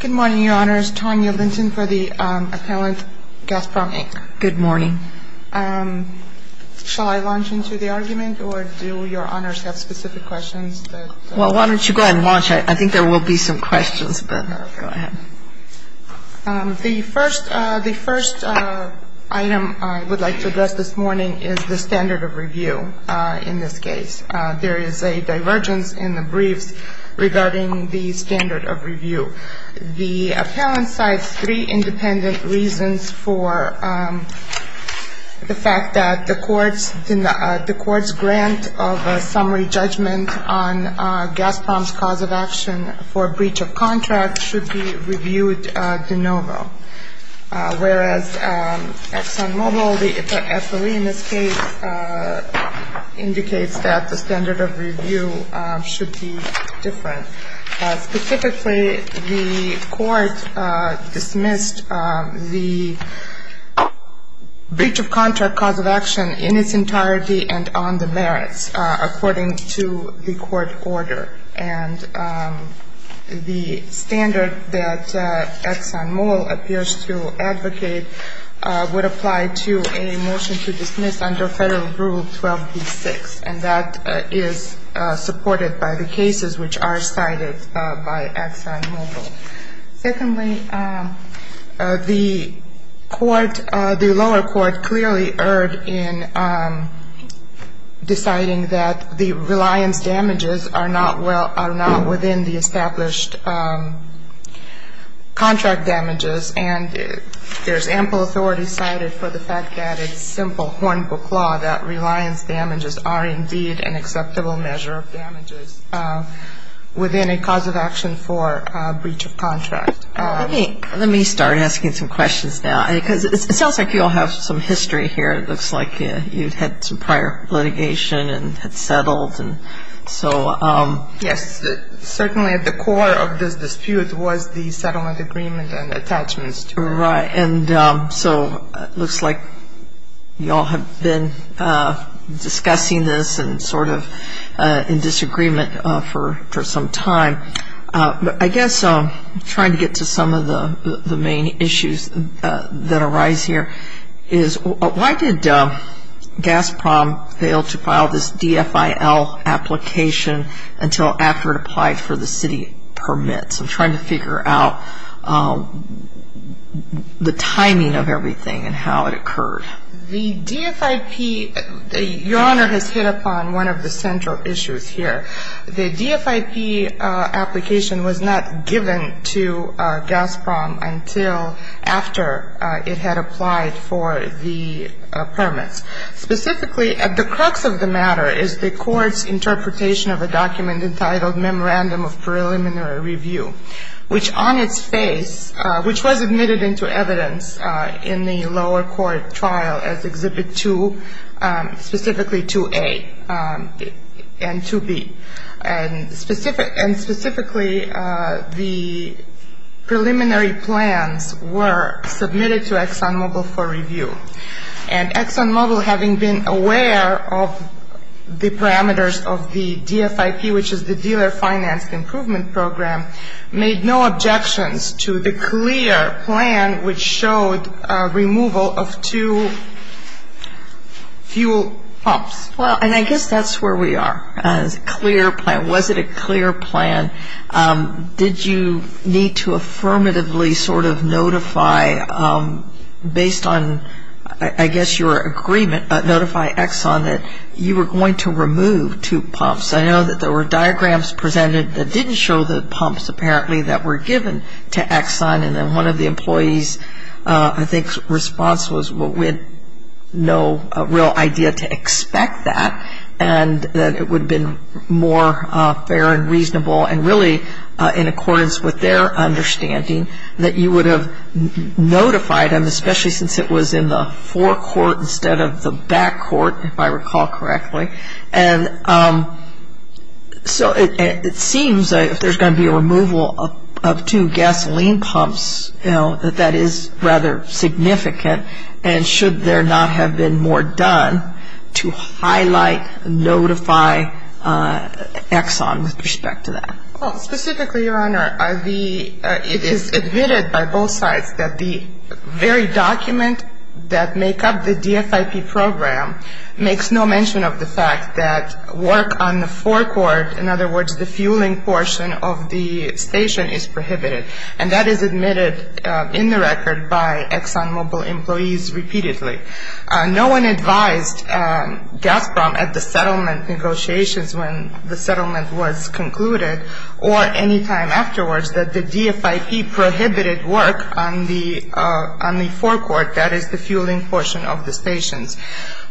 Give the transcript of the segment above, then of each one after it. Good morning, Your Honors. Tanya Linton for the appellant, Gasprom Inc. Good morning. Shall I launch into the argument, or do Your Honors have specific questions? Why don't you go ahead and launch. I think there will be some questions, but go ahead. The first item I would like to address this morning is the standard of review in this case. The appellant cites three independent reasons for the fact that the court's grant of a summary judgment on Gasprom's cause of action for breach of contract should be reviewed de novo, whereas ExxonMobil, the FOE in this case, indicates that the standard of review should be different. Specifically, the court dismissed the breach of contract cause of action in its entirety and on the merits, according to the court order. And the standard that ExxonMobil appears to advocate would apply to a motion to dismiss under Federal Rule 12B-6, and that is supported by the cases which are cited by ExxonMobil. Secondly, the court, the lower court, clearly erred in deciding that the reliance damages are not well, are not within the established contract damages, and there's ample authority cited for the fact that it's simple hornbook law that reliance damages are indeed an acceptable measure of damages within a cause of action for breach of contract. Let me start asking some questions now, because it sounds like you all have some history here. It looks like you've had some prior litigation and had settled, and so — Yes. Certainly at the core of this dispute was the settlement agreement and attachments to it. Right. And so it looks like you all have been discussing this and sort of in disagreement for some time. But I guess I'm trying to get to some of the main issues that arise here is why did GASPROM fail to file this DFIL application until after it applied for the permits. I'm trying to figure out the timing of everything and how it occurred. The DFIP, Your Honor, has hit upon one of the central issues here. The DFIP application was not given to GASPROM until after it had applied for the permits. Specifically, at the crux of the matter is the court's interpretation of a document entitled Memorandum of Preliminary Review, which on its face — which was admitted into evidence in the lower court trial as Exhibit 2, specifically 2A and 2B. And specifically the preliminary plans were submitted to ExxonMobil for review. And ExxonMobil, having been aware of the parameters of the DFIP, which is the Dealer Finance Improvement Program, made no objections to the clear plan, which showed removal of two fuel pumps. Well, and I guess that's where we are. It's a clear plan. Was it a clear plan? Did you need to affirmatively sort of notify, based on, I guess, your agreement, notify Exxon that you were going to remove two pumps? I know that there were diagrams presented that didn't show the pumps apparently that were given to Exxon. And then one of the employees, I think, response was, well, we had no real idea to expect that and that it would have been more fair and reasonable and really in accordance with their understanding that you would have notified them, especially since it was in the forecourt instead of the backcourt, if I recall correctly. And so it seems if there's going to be a removal of two gasoline pumps, you know, that that is rather significant. And should there not have been more done to highlight, notify Exxon with respect to that? Well, specifically, Your Honor, it is admitted by both sides that the very document that make up the DFIP program makes no mention of the fact that work on the forecourt, in other words, the fueling portion of the station, is prohibited. And that is admitted in the Gazprom at the settlement negotiations when the settlement was concluded or any time afterwards that the DFIP prohibited work on the forecourt, that is, the fueling portion of the stations.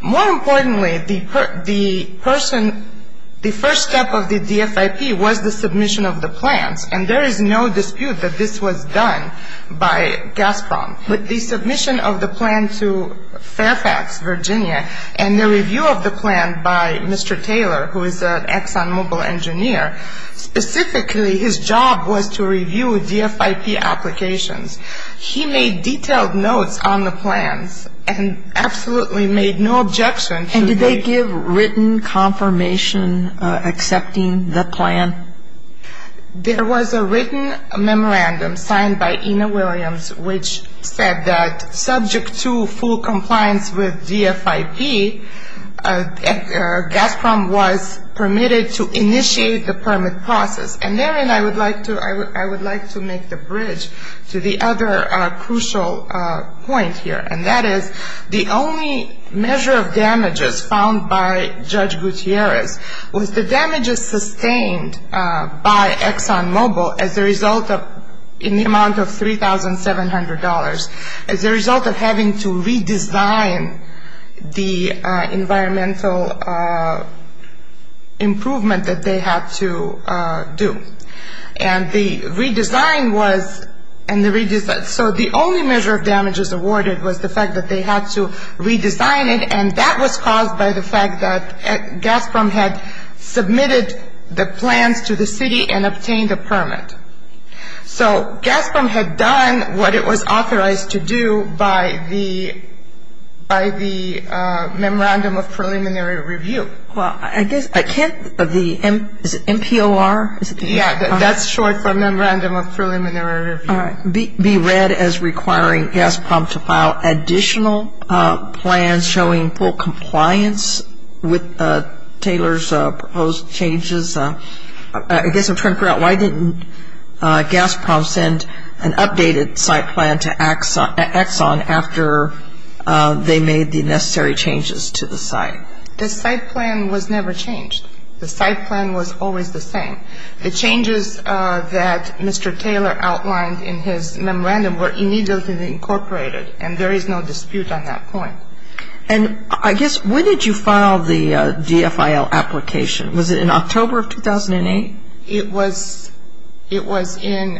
More importantly, the person, the first step of the DFIP was the submission of the plans. And there is no dispute that this was done by Gazprom. But the submission of the plan to Fairfax, Virginia, and the review of the plan by Mr. Taylor, who is an ExxonMobil engineer, specifically his job was to review DFIP applications. He made detailed notes on the plans and absolutely made no objection to the And did they give written confirmation accepting the plan? There was a written memorandum signed by Ina Williams, which said that subject to full compliance with DFIP, Gazprom was permitted to initiate the permit process. And therein I would like to make the bridge to the other crucial point here, and that is the only measure of damages found by Judge Gutierrez was the damages sustained by ExxonMobil as a result of, in the amount of $3,700, as a result of having to redesign the environmental improvement that they had to do. And the redesign was, so the only measure of damages awarded was the fact that they had to redesign it, and that was caused by the fact that Gazprom had submitted the plans to the city and obtained a permit. So Gazprom had done what it was authorized to do by the Memorandum of Preliminary Review. Well, I guess I can't, is it MPOR? Yeah, that's short for Memorandum of Preliminary Review. All right. Be read as requiring Gazprom to file additional plans showing full compliance with Taylor's proposed changes. I guess I'm trying to figure out why didn't Gazprom send an updated site plan to Exxon after they made the necessary changes to the site? The site plan was never changed. The site plan was always the same. The changes that Mr. Taylor outlined in his memorandum were immediately incorporated, and there is no dispute on that point. And I guess when did you file the DFIL application? Was it in October of 2008? It was in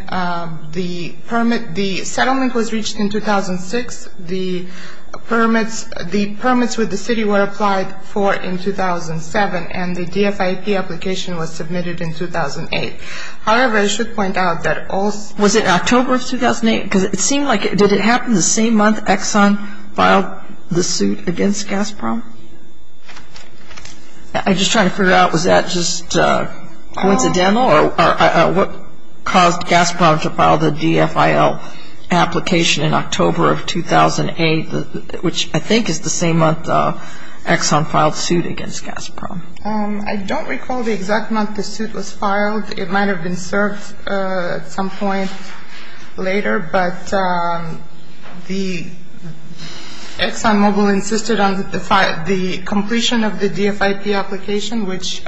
the permit. The settlement was reached in 2006. The permits with the city were applied for in 2007, and the DFIL application was submitted in 2008. However, I should point out that all Was it October of 2008? Because it seemed like, did it happen the same month Exxon filed the suit against Gazprom? I'm just trying to figure out, was that just coincidental or what caused Gazprom to file the DFIL application in October of 2008, which I think is the same month Exxon filed the suit against Gazprom? I don't recall the exact month the suit was filed. It might have been served at some point later, but the ExxonMobil insisted on the completion of the DFIP application, which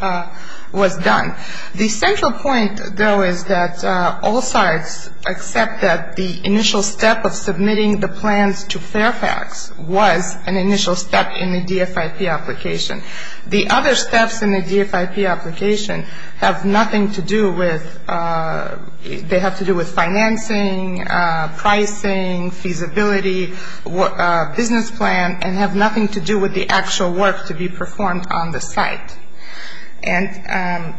was done. The central point, though, is that all sites except that the initial step of in the DFIP application. The other steps in the DFIP application have nothing to do with they have to do with financing, pricing, feasibility, business plan, and have nothing to do with the actual work to be performed on the site. And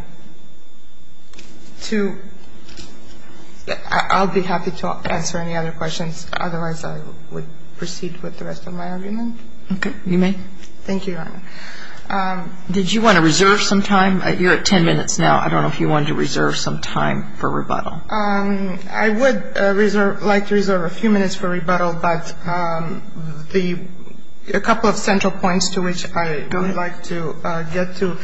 to I'll be happy to answer any other questions. Otherwise, I would proceed with the rest of my argument. Okay. You may. Thank you, Your Honor. Did you want to reserve some time? You're at ten minutes now. I don't know if you wanted to reserve some time for rebuttal. I would like to reserve a few minutes for rebuttal, but the couple of central points to which I would like to get to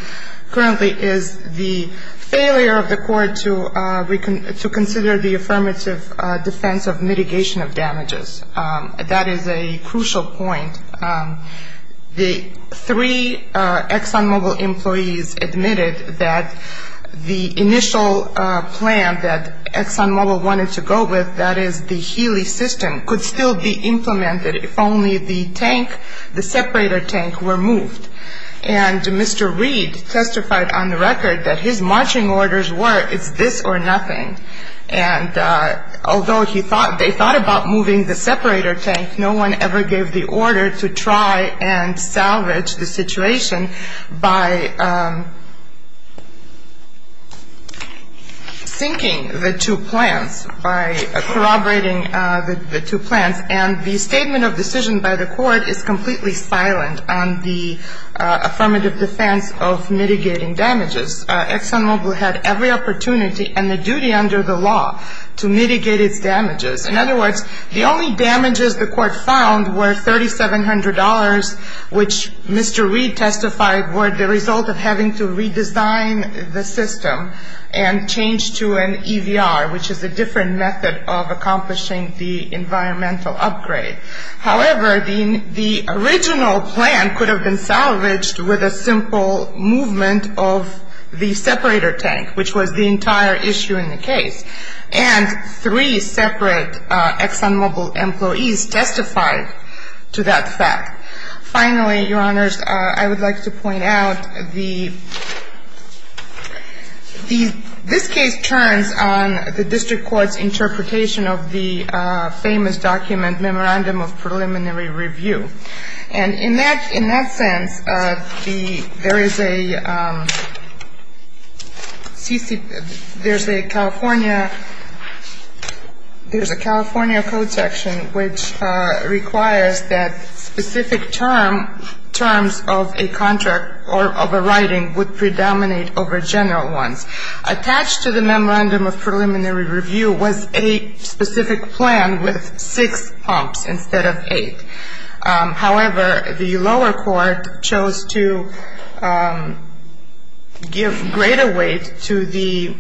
currently is the failure of the Court to consider the affirmative defense of mitigation of damages. That is a crucial point. The three ExxonMobil employees admitted that the initial plan that ExxonMobil wanted to go with, that is the Healy system, could still be implemented if only the tank, the separator tank, were moved. And Mr. Reed testified on the record that his marching orders were it's this or nothing. And although he thought they thought about moving the separator tank, no one ever gave the order to try and salvage the situation by sinking the two plants, by corroborating the two plants. And the statement of decision by the Court is completely silent on the affirmative defense of mitigating damages. ExxonMobil had every opportunity and the duty under the law to mitigate its damages. In other words, the only damages the Court found were $3,700, which Mr. Reed testified were the result of having to redesign the system and change to an EVR, which is a different method of accomplishing the environmental upgrade. However, the original plan could have been salvaged with a simple movement of the separator tank, which was the entire issue in the case. And three separate ExxonMobil employees testified to that fact. Finally, Your Honors, I would like to point out the, this case turns on the district court's interpretation of the famous document, Memorandum of Preliminary Review. And in that, in that sense, the, there is a CC, there's a California, there's a California code section which requires that specific term, terms of a contract or of a writing would predominate over general ones. Attached to the Memorandum of Preliminary Review was a specific plan with six pumps instead of eight. However, the lower court chose to give greater weight to the,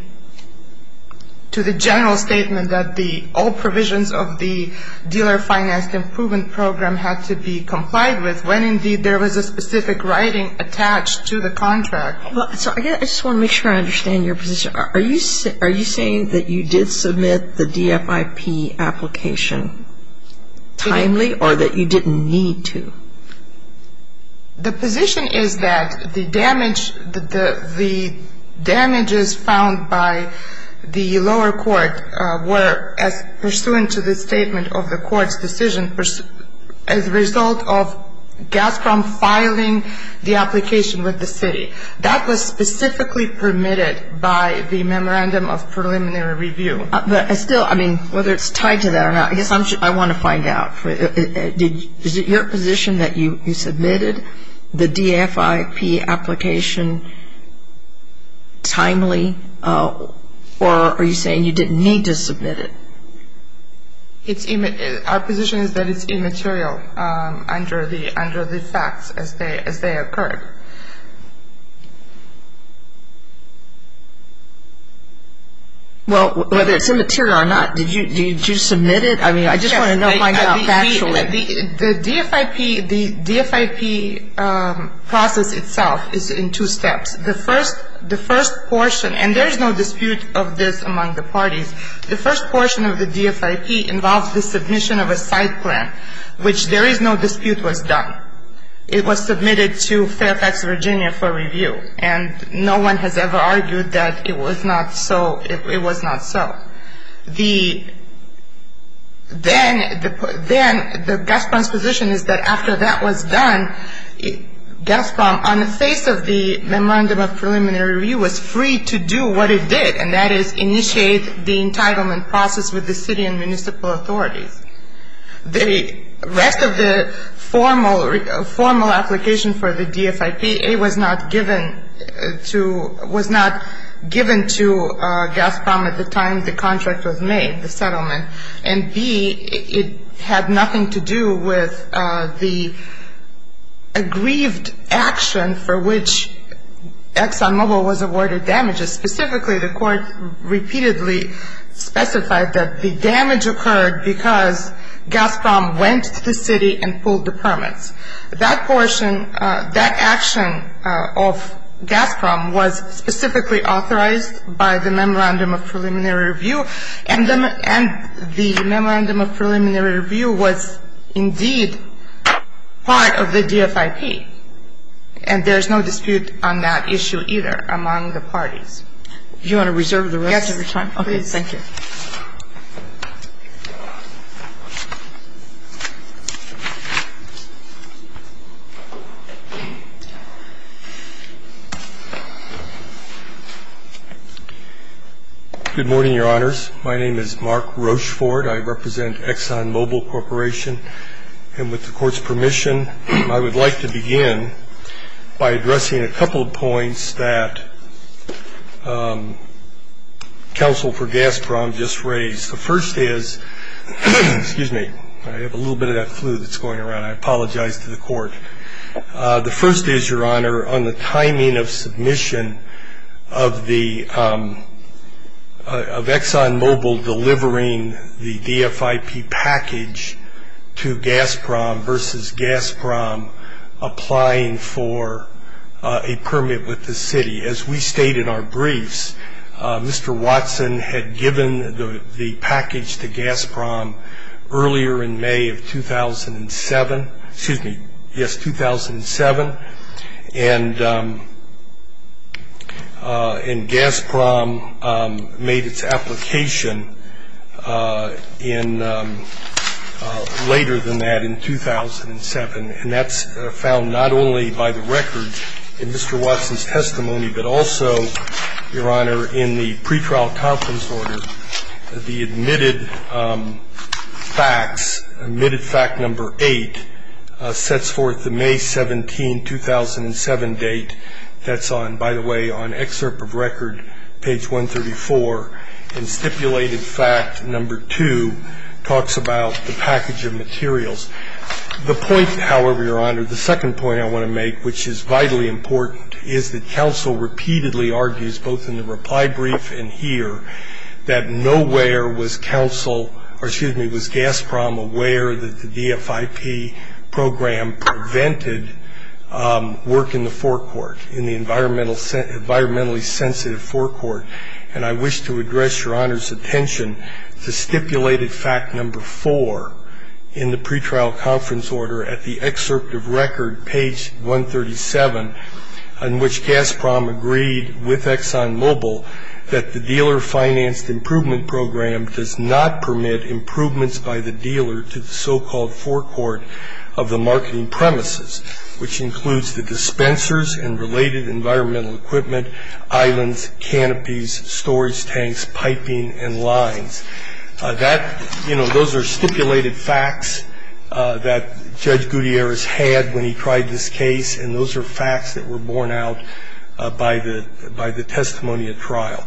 to the general statement that the old provisions of the dealer finance improvement program had to be complied with when indeed there was a specific writing attached to the contract. Well, so I guess I just want to make sure I understand your position. Are you saying that you did submit the DFIP application timely or that you didn't need to? The position is that the damage, the damages found by the lower court were as pursuant to the statement of the court's decision as a result of Gazprom filing the application with the city. That was specifically permitted by the Memorandum of Preliminary Review. But still, I mean, whether it's tied to that or not, I guess I'm, I want to find out. Is it your position that you submitted the DFIP application timely or are you saying you didn't need to submit it? It's, our position is that it's immaterial under the, under the facts as they, as they occurred. Well, whether it's immaterial or not, did you, did you submit it? I mean, I just want to know if I got factual in it. The DFIP, the DFIP process itself is in two steps. The first, the first portion, and there's no dispute of this among the parties. The first portion of the DFIP involves the submission of a side plan, which there is no dispute was done. It was submitted to Fairfax, Virginia for review. And no one has ever argued that it was not so, it was not so. The, then, then the Gazprom's position is that after that was done, Gazprom, on the basis of the Memorandum of Preliminary Review, was free to do what it did, and that is initiate the entitlement process with the city and municipal authorities. The rest of the formal, formal application for the DFIP, A, was not given to, was not given to Gazprom at the time the contract was made, the settlement, and B, it had nothing to do with the aggrieved action for which ExxonMobil was awarded damages. Specifically, the court repeatedly specified that the damage occurred because Gazprom went to the city and pulled the permits. That portion, that action of Gazprom was specifically authorized by the Memorandum of Preliminary Review, and the Memorandum of Preliminary Review was, indeed, part of the DFIP. And there's no dispute on that issue, either, among the parties. If you want to reserve the rest of your time, please. Yes. Okay. Thank you. Good morning, Your Honors. My name is Mark Rocheford. I represent ExxonMobil Corporation. And with the Court's permission, I would like to begin by addressing a couple of points that counsel for Gazprom just raised. The first is, excuse me, I have a little bit of that flu that's going around. I apologize to the Court. The first is, Your Honor, on the timing of submission of ExxonMobil delivering the DFIP package to Gazprom versus Gazprom applying for a permit with the city. As we state in our briefs, Mr. Watson had given the package to Gazprom earlier in May of 2007. Excuse me. Yes, 2007. And Gazprom made its application in ñ later than that, in 2007. And that's found not only by the records in Mr. Watson's testimony, but also, Your Honor, in the pretrial conference order, the admitted facts, admitted fact number 8, sets forth the May 17, 2007 date that's on, by the way, on excerpt of record, page 134, and stipulated fact number 2 talks about the package of materials. The point, however, Your Honor, the second point I want to make, which is vitally important, is that counsel repeatedly argues, both in the reply brief and here, that nowhere was counsel ñ or, excuse me, was Gazprom aware that the DFIP program prevented work in the forecourt, in the environmentally sensitive forecourt. And I wish to address Your Honor's attention to stipulated fact number 4 in the pretrial conference order at the excerpt of record, page 137, in which Gazprom agreed with ExxonMobil that the dealer-financed improvement program does not permit improvements by the dealer to the so-called forecourt of the marketing premises, which includes the dispensers and related environmental equipment, islands, canopies, storage tanks, piping, and lines. That, you know, those are stipulated facts that Judge Gutierrez had when he tried this case, and those are facts that were borne out by the testimony at trial.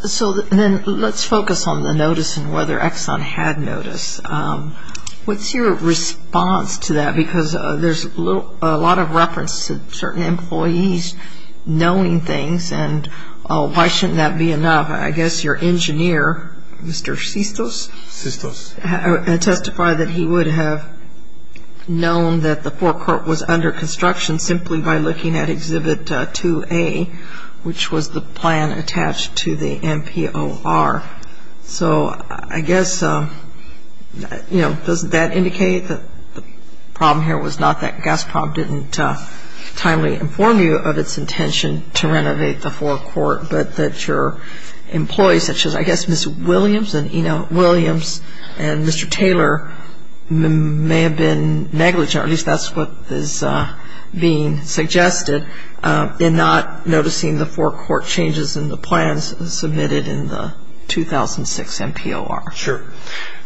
So then let's focus on the notice and whether Exxon had notice. What's your response to that? Because there's a lot of reference to certain employees knowing things, and why shouldn't that be enough? I guess your engineer, Mr. Sistos, testified that he would have known that the forecourt was under construction simply by looking at Exhibit 2A, which was the plan attached to the MPOR. So I guess, you know, doesn't that indicate that the problem here was not that Gazprom didn't timely inform you of its intention to renovate the forecourt, but that your employees, such as I guess Ms. Williams and, you know, Williams and Mr. Taylor may have been negligent, or at least that's what is being suggested, in not noticing the forecourt changes in the plans submitted in the 2006 MPOR. Sure.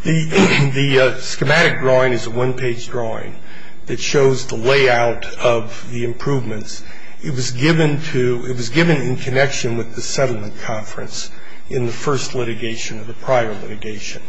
The schematic drawing is a one-page drawing that shows the layout of the improvements. It was given to, it was given in connection with the settlement conference in the first litigation of the prior litigation.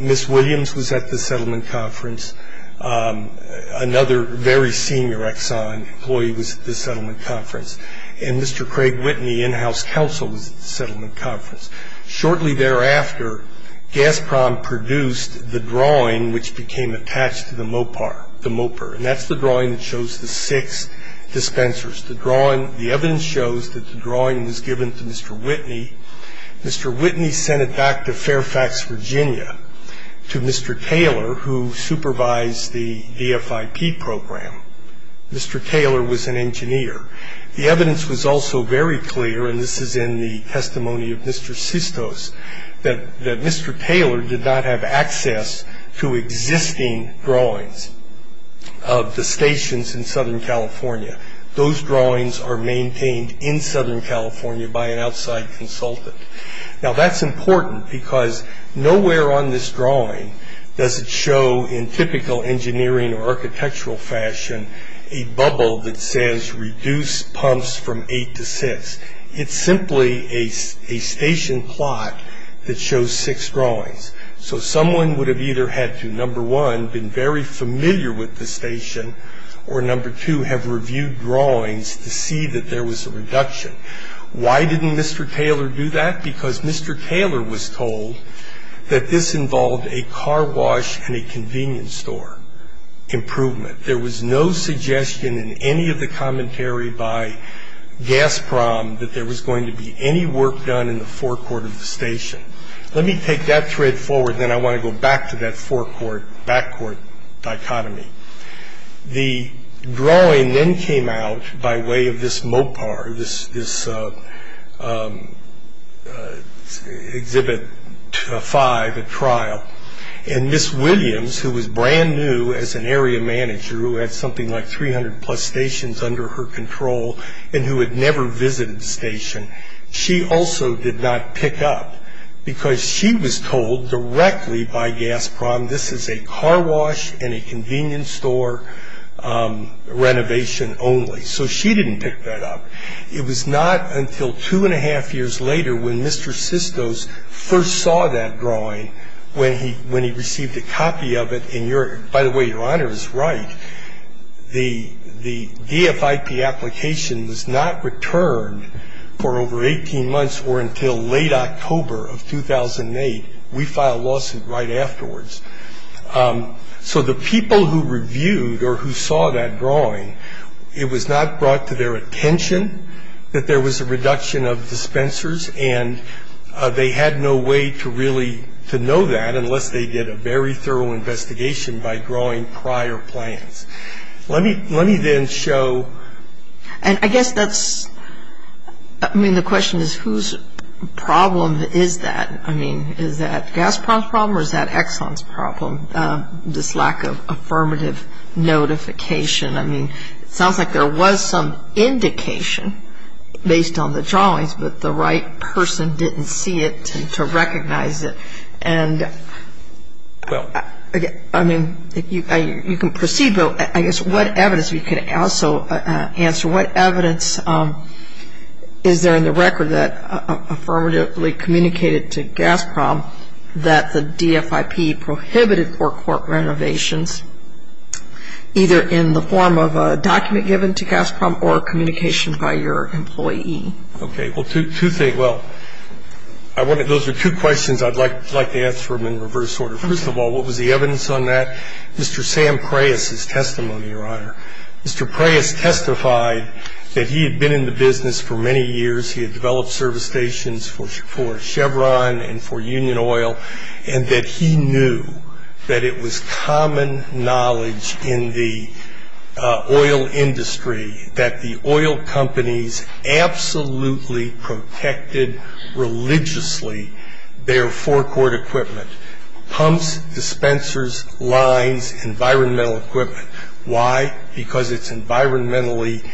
Ms. Williams was at the settlement conference. Another very senior Exxon employee was at the settlement conference. And Mr. Craig Whitney, in-house counsel, was at the settlement conference. Shortly thereafter, Gazprom produced the drawing which became attached to the MOPAR, the MOPAR. And that's the drawing that shows the six dispensers. The drawing, the evidence shows that the drawing was given to Mr. Whitney. Mr. Whitney sent it back to Fairfax, Virginia, to Mr. Taylor, who supervised the DFIP program. Mr. Taylor was an engineer. The evidence was also very clear, and this is in the testimony of Mr. Sistos, that Mr. Taylor did not have access to existing drawings of the stations in Southern California. Those drawings are maintained in Southern California by an outside consultant. Now that's important because nowhere on this drawing does it show, in typical engineering or architectural fashion, a bubble that says reduce pumps from eight to six. It's simply a station plot that shows six drawings. So someone would have either had to, number one, been very familiar with the station, or number two, have reviewed drawings to see that there was a reduction. Why didn't Mr. Taylor do that? Because Mr. Taylor was told that this involved a car wash and a convenience store improvement. There was no suggestion in any of the commentary by Gazprom that there was going to be any work done in the forecourt of the station. Let me take that thread forward, then I want to go back to that forecourt-backcourt dichotomy. The drawing then came out by way of this MOPAR, this Exhibit 5 at trial, and Ms. Williams, who was brand new as an area manager, who had something like 300 plus stations under her control, and who had never visited the Gazprom, this is a car wash and a convenience store renovation only. So she didn't pick that up. It was not until two and a half years later when Mr. Sistos first saw that drawing, when he received a copy of it, and by the way, Your Honor is right, the DFIP application was not returned for over 18 months or until late October of 2008. We filed lawsuit right afterwards. So the people who reviewed or who saw that drawing, it was not brought to their attention that there was a reduction of dispensers, and they had no way to really to know that unless they did a very thorough investigation by drawing prior plans. Let me then show And I guess that's, I mean the question is whose problem is that? I mean is that Gazprom's problem or is that Exxon's problem, this lack of affirmative notification? I mean it sounds like there was some indication based on the drawings, but the right person didn't see it to recognize it. And I mean you can proceed, but I guess what evidence we can also answer, what evidence is there in the record that affirmatively communicated to Gazprom that the DFIP prohibited forecourt renovations either in the form of a document given to Gazprom or a communication by your employee? Okay. Well, two things. Well, those are two questions I'd like to answer them in reverse order. First of all, what was the evidence on that? Mr. Sam Preyas' testimony, Your Honor. Mr. Preyas testified that he had been in the business for many years. He had developed service stations for Chevron and for Union Oil and that he knew that it was common knowledge in the oil industry that the oil companies absolutely protected religiously their forecourt equipment. Pumps, dispensers, lines, environmental equipment. Why? Because it's environmentally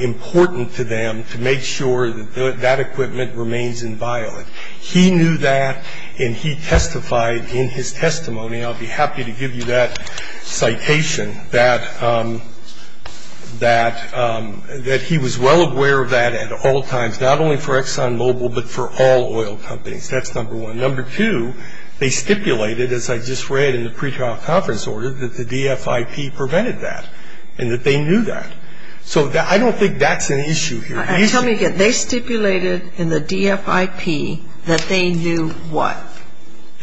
important to them to make sure that that equipment remains inviolate. He knew that and he testified in his testimony, and I'll be happy to give you that citation, that he was well aware of that at all times, not only for ExxonMobil, but for all oil companies. That's number one. Number two, they stipulated, as I just read in the pre-trial conference order, that the oil companies would not be able to do that. So I don't think that's an issue here. Tell me again. They stipulated in the DFIP that they knew what?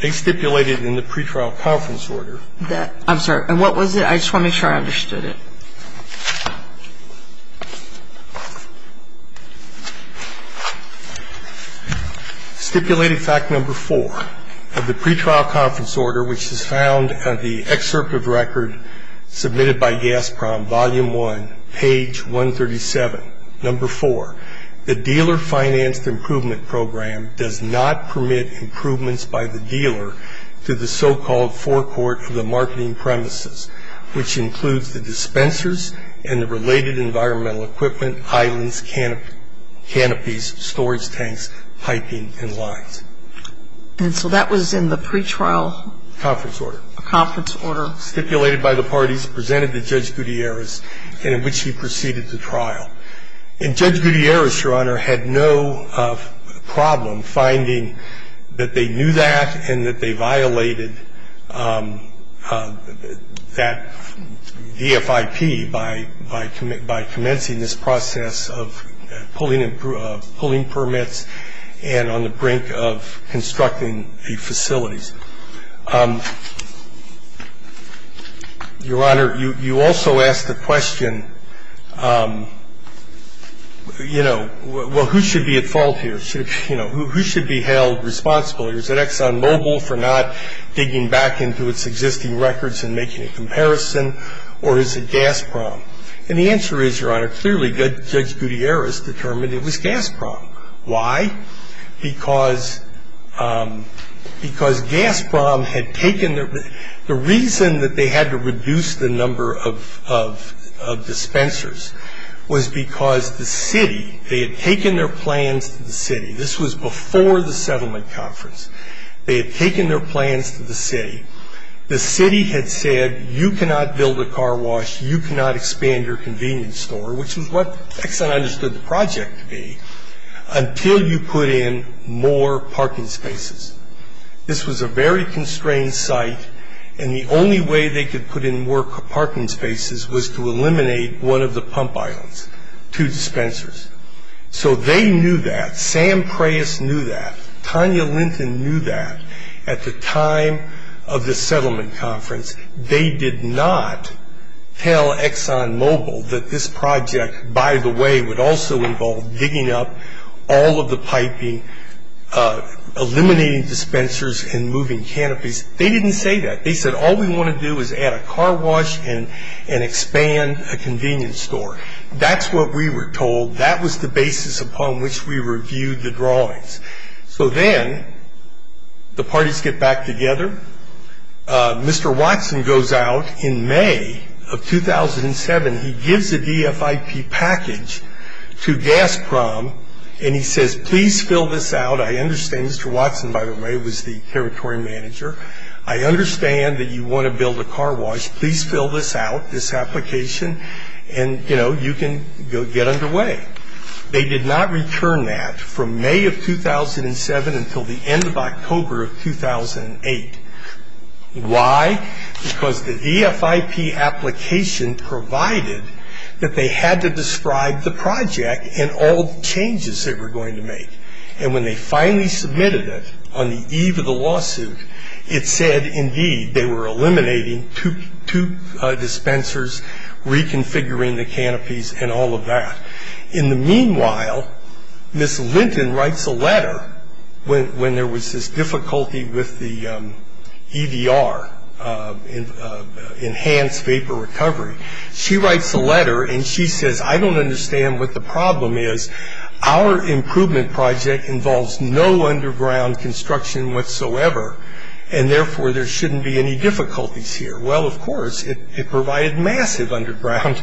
They stipulated in the pre-trial conference order. I'm sorry. And what was it? I just want to make sure I understood it. Stipulated fact number four of the pre-trial conference order, which is found on the excerpt of record submitted by GASPROM, volume one, page 137, number four, the dealer-financed improvement program does not permit improvements by the dealer to the so-called forecourt for the marketing premises, which includes the dispensers and the related environmental equipment, islands, canopies, storage tanks, piping, and lines. And so that was in the pre-trial conference order. The pre-trial conference order stipulated by the parties presented to Judge Gutierrez and in which he proceeded the trial. And Judge Gutierrez, Your Honor, had no problem finding that they knew that and that they violated that DFIP by commencing this process of pulling permits and on the brink of constructing the facilities. Your Honor, you also asked the question, you know, well, who should be at fault here? You know, who should be held responsible? Is it ExxonMobil for not digging back into its existing records and making a comparison, or is it GASPROM? And the answer is, Your Honor, clearly Judge Gutierrez determined it was GASPROM. Why? Because GASPROM had taken their, the reason that they had to reduce the number of dispensers was because the city, they had taken their plans to the city. This was before the settlement conference. They had taken their plans to the city. The city had said, you cannot build a car wash, you cannot expand your convenience store, which was what Exxon understood the project to be, until you put in more parking spaces. This was a very constrained site, and the only way they could put in more parking spaces was to eliminate one of the pump islands, two dispensers. So they knew that. Sam Preuss knew that. Tanya Linton knew that. At the time of the settlement conference, they did not tell ExxonMobil that this project, by the way, would also involve digging up all of the piping, eliminating dispensers and moving canopies. They didn't say that. They said all we want to do is add a car wash and expand a convenience store. That's what we were told. That was the basis upon which we reviewed the drawings. So then the parties get back together. Mr. Watson goes out in May of 2007. He gives the DFIP package to Gazprom, and he says, please fill this out. I understand Mr. Watson, by the way, was the territory manager. I understand that you want to build a car wash. Please fill this out, this application, and, you know, you can go get underway. They did not return that from May of 2007 until the end of October of 2008. Why? Because the DFIP application provided that they had to describe the project and all the changes they were going to make. And when they finally submitted it on the eve of the lawsuit, it said, indeed, they were eliminating two dispensers, reconfiguring the canopies, and all of that. In the meanwhile, Ms. Linton writes a letter when there was this difficulty with the EDR, enhanced vapor recovery. She writes a letter, and she says, I don't understand what the problem is. Our improvement project involves no underground construction whatsoever, and therefore, there shouldn't be any difficulties here. Well, of course, it provided massive underground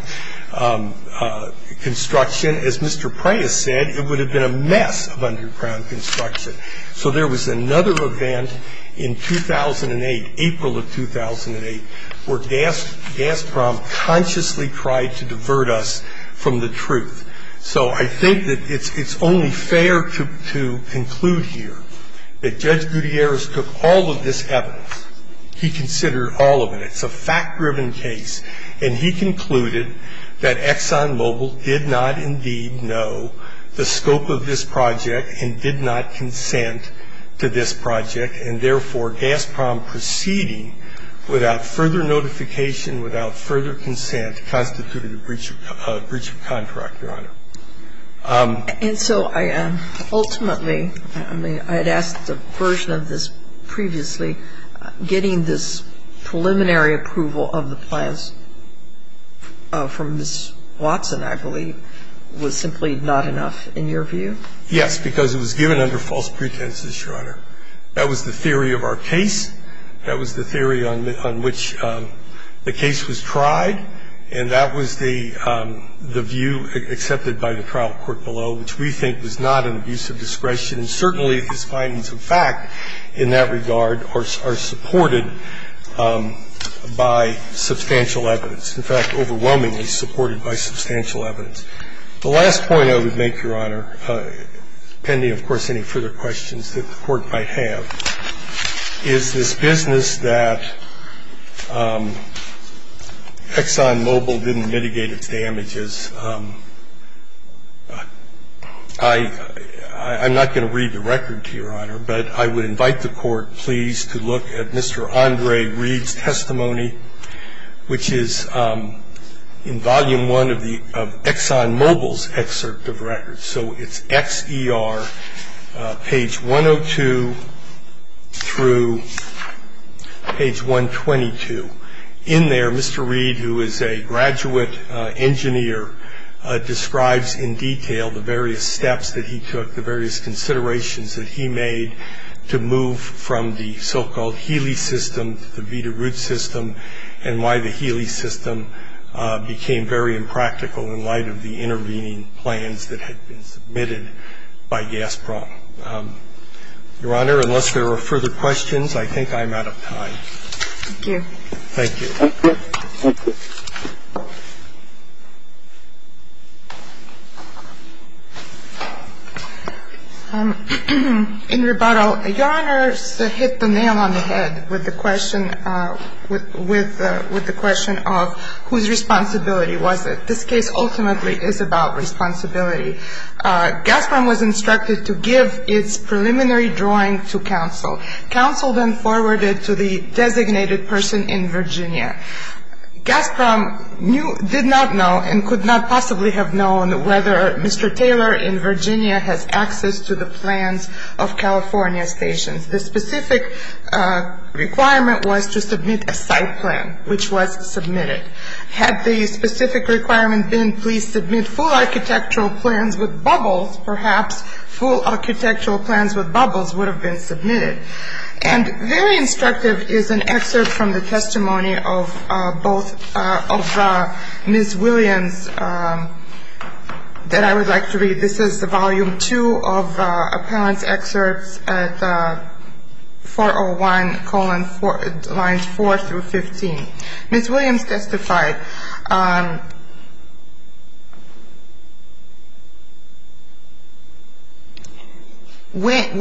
construction. As Mr. Prias said, it would have been a mess of underground construction. So there was another event in 2008, April of 2008, where Gazprom consciously tried to divert us from the truth. So I think that it's only fair to conclude here that Judge Gutierrez took all of this evidence. He considered all of it. It's a fact-driven case. And he concluded that ExxonMobil did not indeed know the scope of this project and did not consent to this project, and therefore, Gazprom proceeding without further notification, without further consent, constituted a breach of contract, Your Honor. And so ultimately, I mean, I had asked a version of this previously, getting this preliminary approval of the plans from Ms. Watson, I believe, was simply not enough in your view? Yes, because it was given under false pretenses, Your Honor. That was the theory of our case. That was the theory on which the case was tried. And that was the view accepted by the trial court below, which we think was not an abuse of discretion. And certainly, his findings of fact in that regard are supported by substantial evidence, in fact, overwhelmingly supported by substantial evidence. The last point I would make, Your Honor, pending, of course, any further questions that the Court might have, is this business that ExxonMobil didn't mitigate its damages. I'm not going to read the record to you, Your Honor, but I would invite the Court, please, to look at Mr. Andre Reid's testimony, which is in Volume I of the ExxonMobil's excerpt of records. So it's EXER, page 102 through page 122. In there, Mr. Reid, who is a graduate engineer, describes in detail the various steps that he took, the various considerations that he made to move from the so-called Healy system to the Vita Root system, and why the Healy system became very impractical in light of the limitations of the Healy system. So I would invite the Court, please, to look at Mr. Reid's testimony, which is in Volume I of the ExxonMobil's excerpt of records. Thank you. Thank you. Thank you. Thank you. Thank you. Thank you. Thank you. Thank you. Thank you. Thank you. Thank you. Thank you. Thank you. Thank you. Thank you. Thank you. Gaspram was instructed to give its preliminary drawing to counsel. Counsel then forwarded to the designated person in Virginia. Gaspram did not know and could not possibly have been able to provide a full architectural plan with bubbles. Perhaps full architectural plans with bubbles would have been submitted. And very instructive is an excerpt from the testimony of both of Ms. Williams that I would like to read. This is the volume two of appellant's 401, lines 4 through 15. Ms. Williams testified, when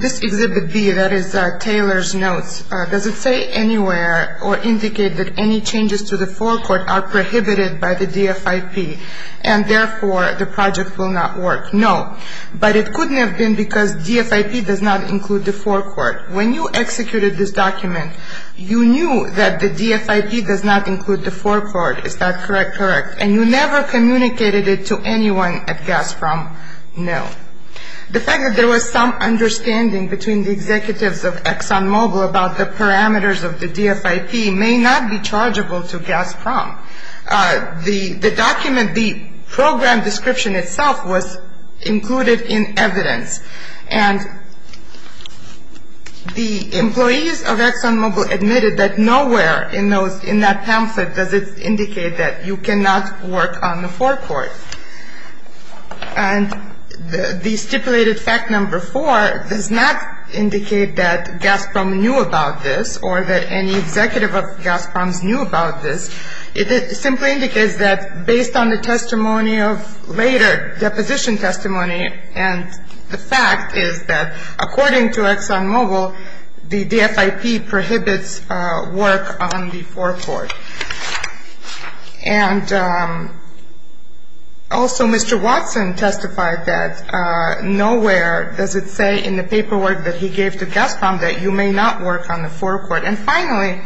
this exhibit B, that is Taylor's notes, does it say anywhere or indicate that any changes to the forecourt are prohibited by DFIP does not include the forecourt. When you executed this document, you knew that the DFIP does not include the forecourt. Is that correct? Correct. And you never communicated it to anyone at Gaspram? No. The fact that there was some understanding between the executives of ExxonMobil about the parameters of the DFIP may not be chargeable to Gaspram. The document, the program description itself was included in evidence. And the employees of ExxonMobil admitted that nowhere in that pamphlet does it indicate that you cannot work on the forecourt. And the stipulated fact number four does not indicate that Gaspram knew about this or that any changes to the forecourt are prohibited by DFIP. And based on the testimony of later deposition testimony, and the fact is that according to ExxonMobil, the DFIP prohibits work on the forecourt. And also, Mr. Watson testified that nowhere does it say in the paperwork that he gave to Gaspram that you may not work on the forecourt. And finally,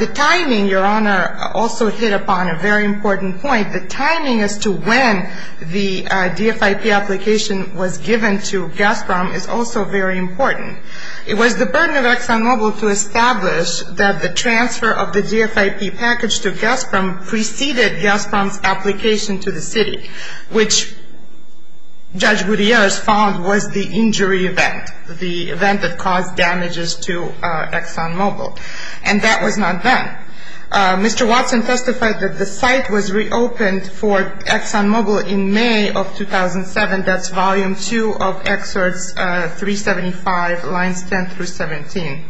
the timing, Your Honor, also hit upon a very important point. The timing as to when the DFIP application was given to Gaspram is also very important. It was the burden of ExxonMobil to establish that the transfer of the DFIP package to Gaspram preceded Gaspram's application to the city, which Judge Gutierrez found was the injury event, the event that caused damages to ExxonMobil. And that was not then. Mr. Watson testified that the site was reopened for ExxonMobil in May of 2007. That's Volume 2 of Excerpts 375, Lines 10 through 17.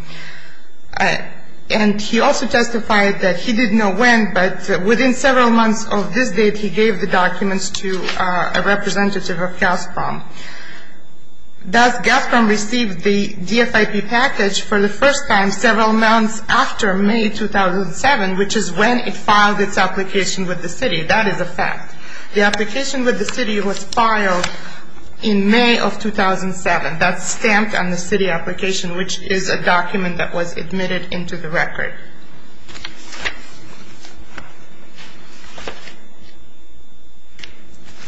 And he also testified that he didn't know when, but within several months of this date, he gave the documents to a representative of Gaspram. Thus, Gaspram received the DFIP package for the first time several months after May 2007, which is when it filed its application with the city. That is a fact. The application with the city was filed in May of 2007. That's stamped on the city application, which is a document that was admitted into the record.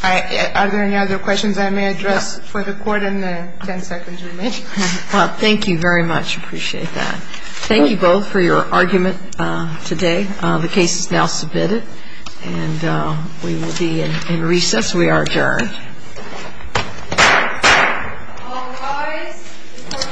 Are there any other questions I may address for the Court in the ten seconds remaining? Well, thank you very much. Appreciate that. Thank you both for your argument today. The case is now submitted. And we will be in recess. We are adjourned. All rise. The Court is adjourned. The Court is adjourned.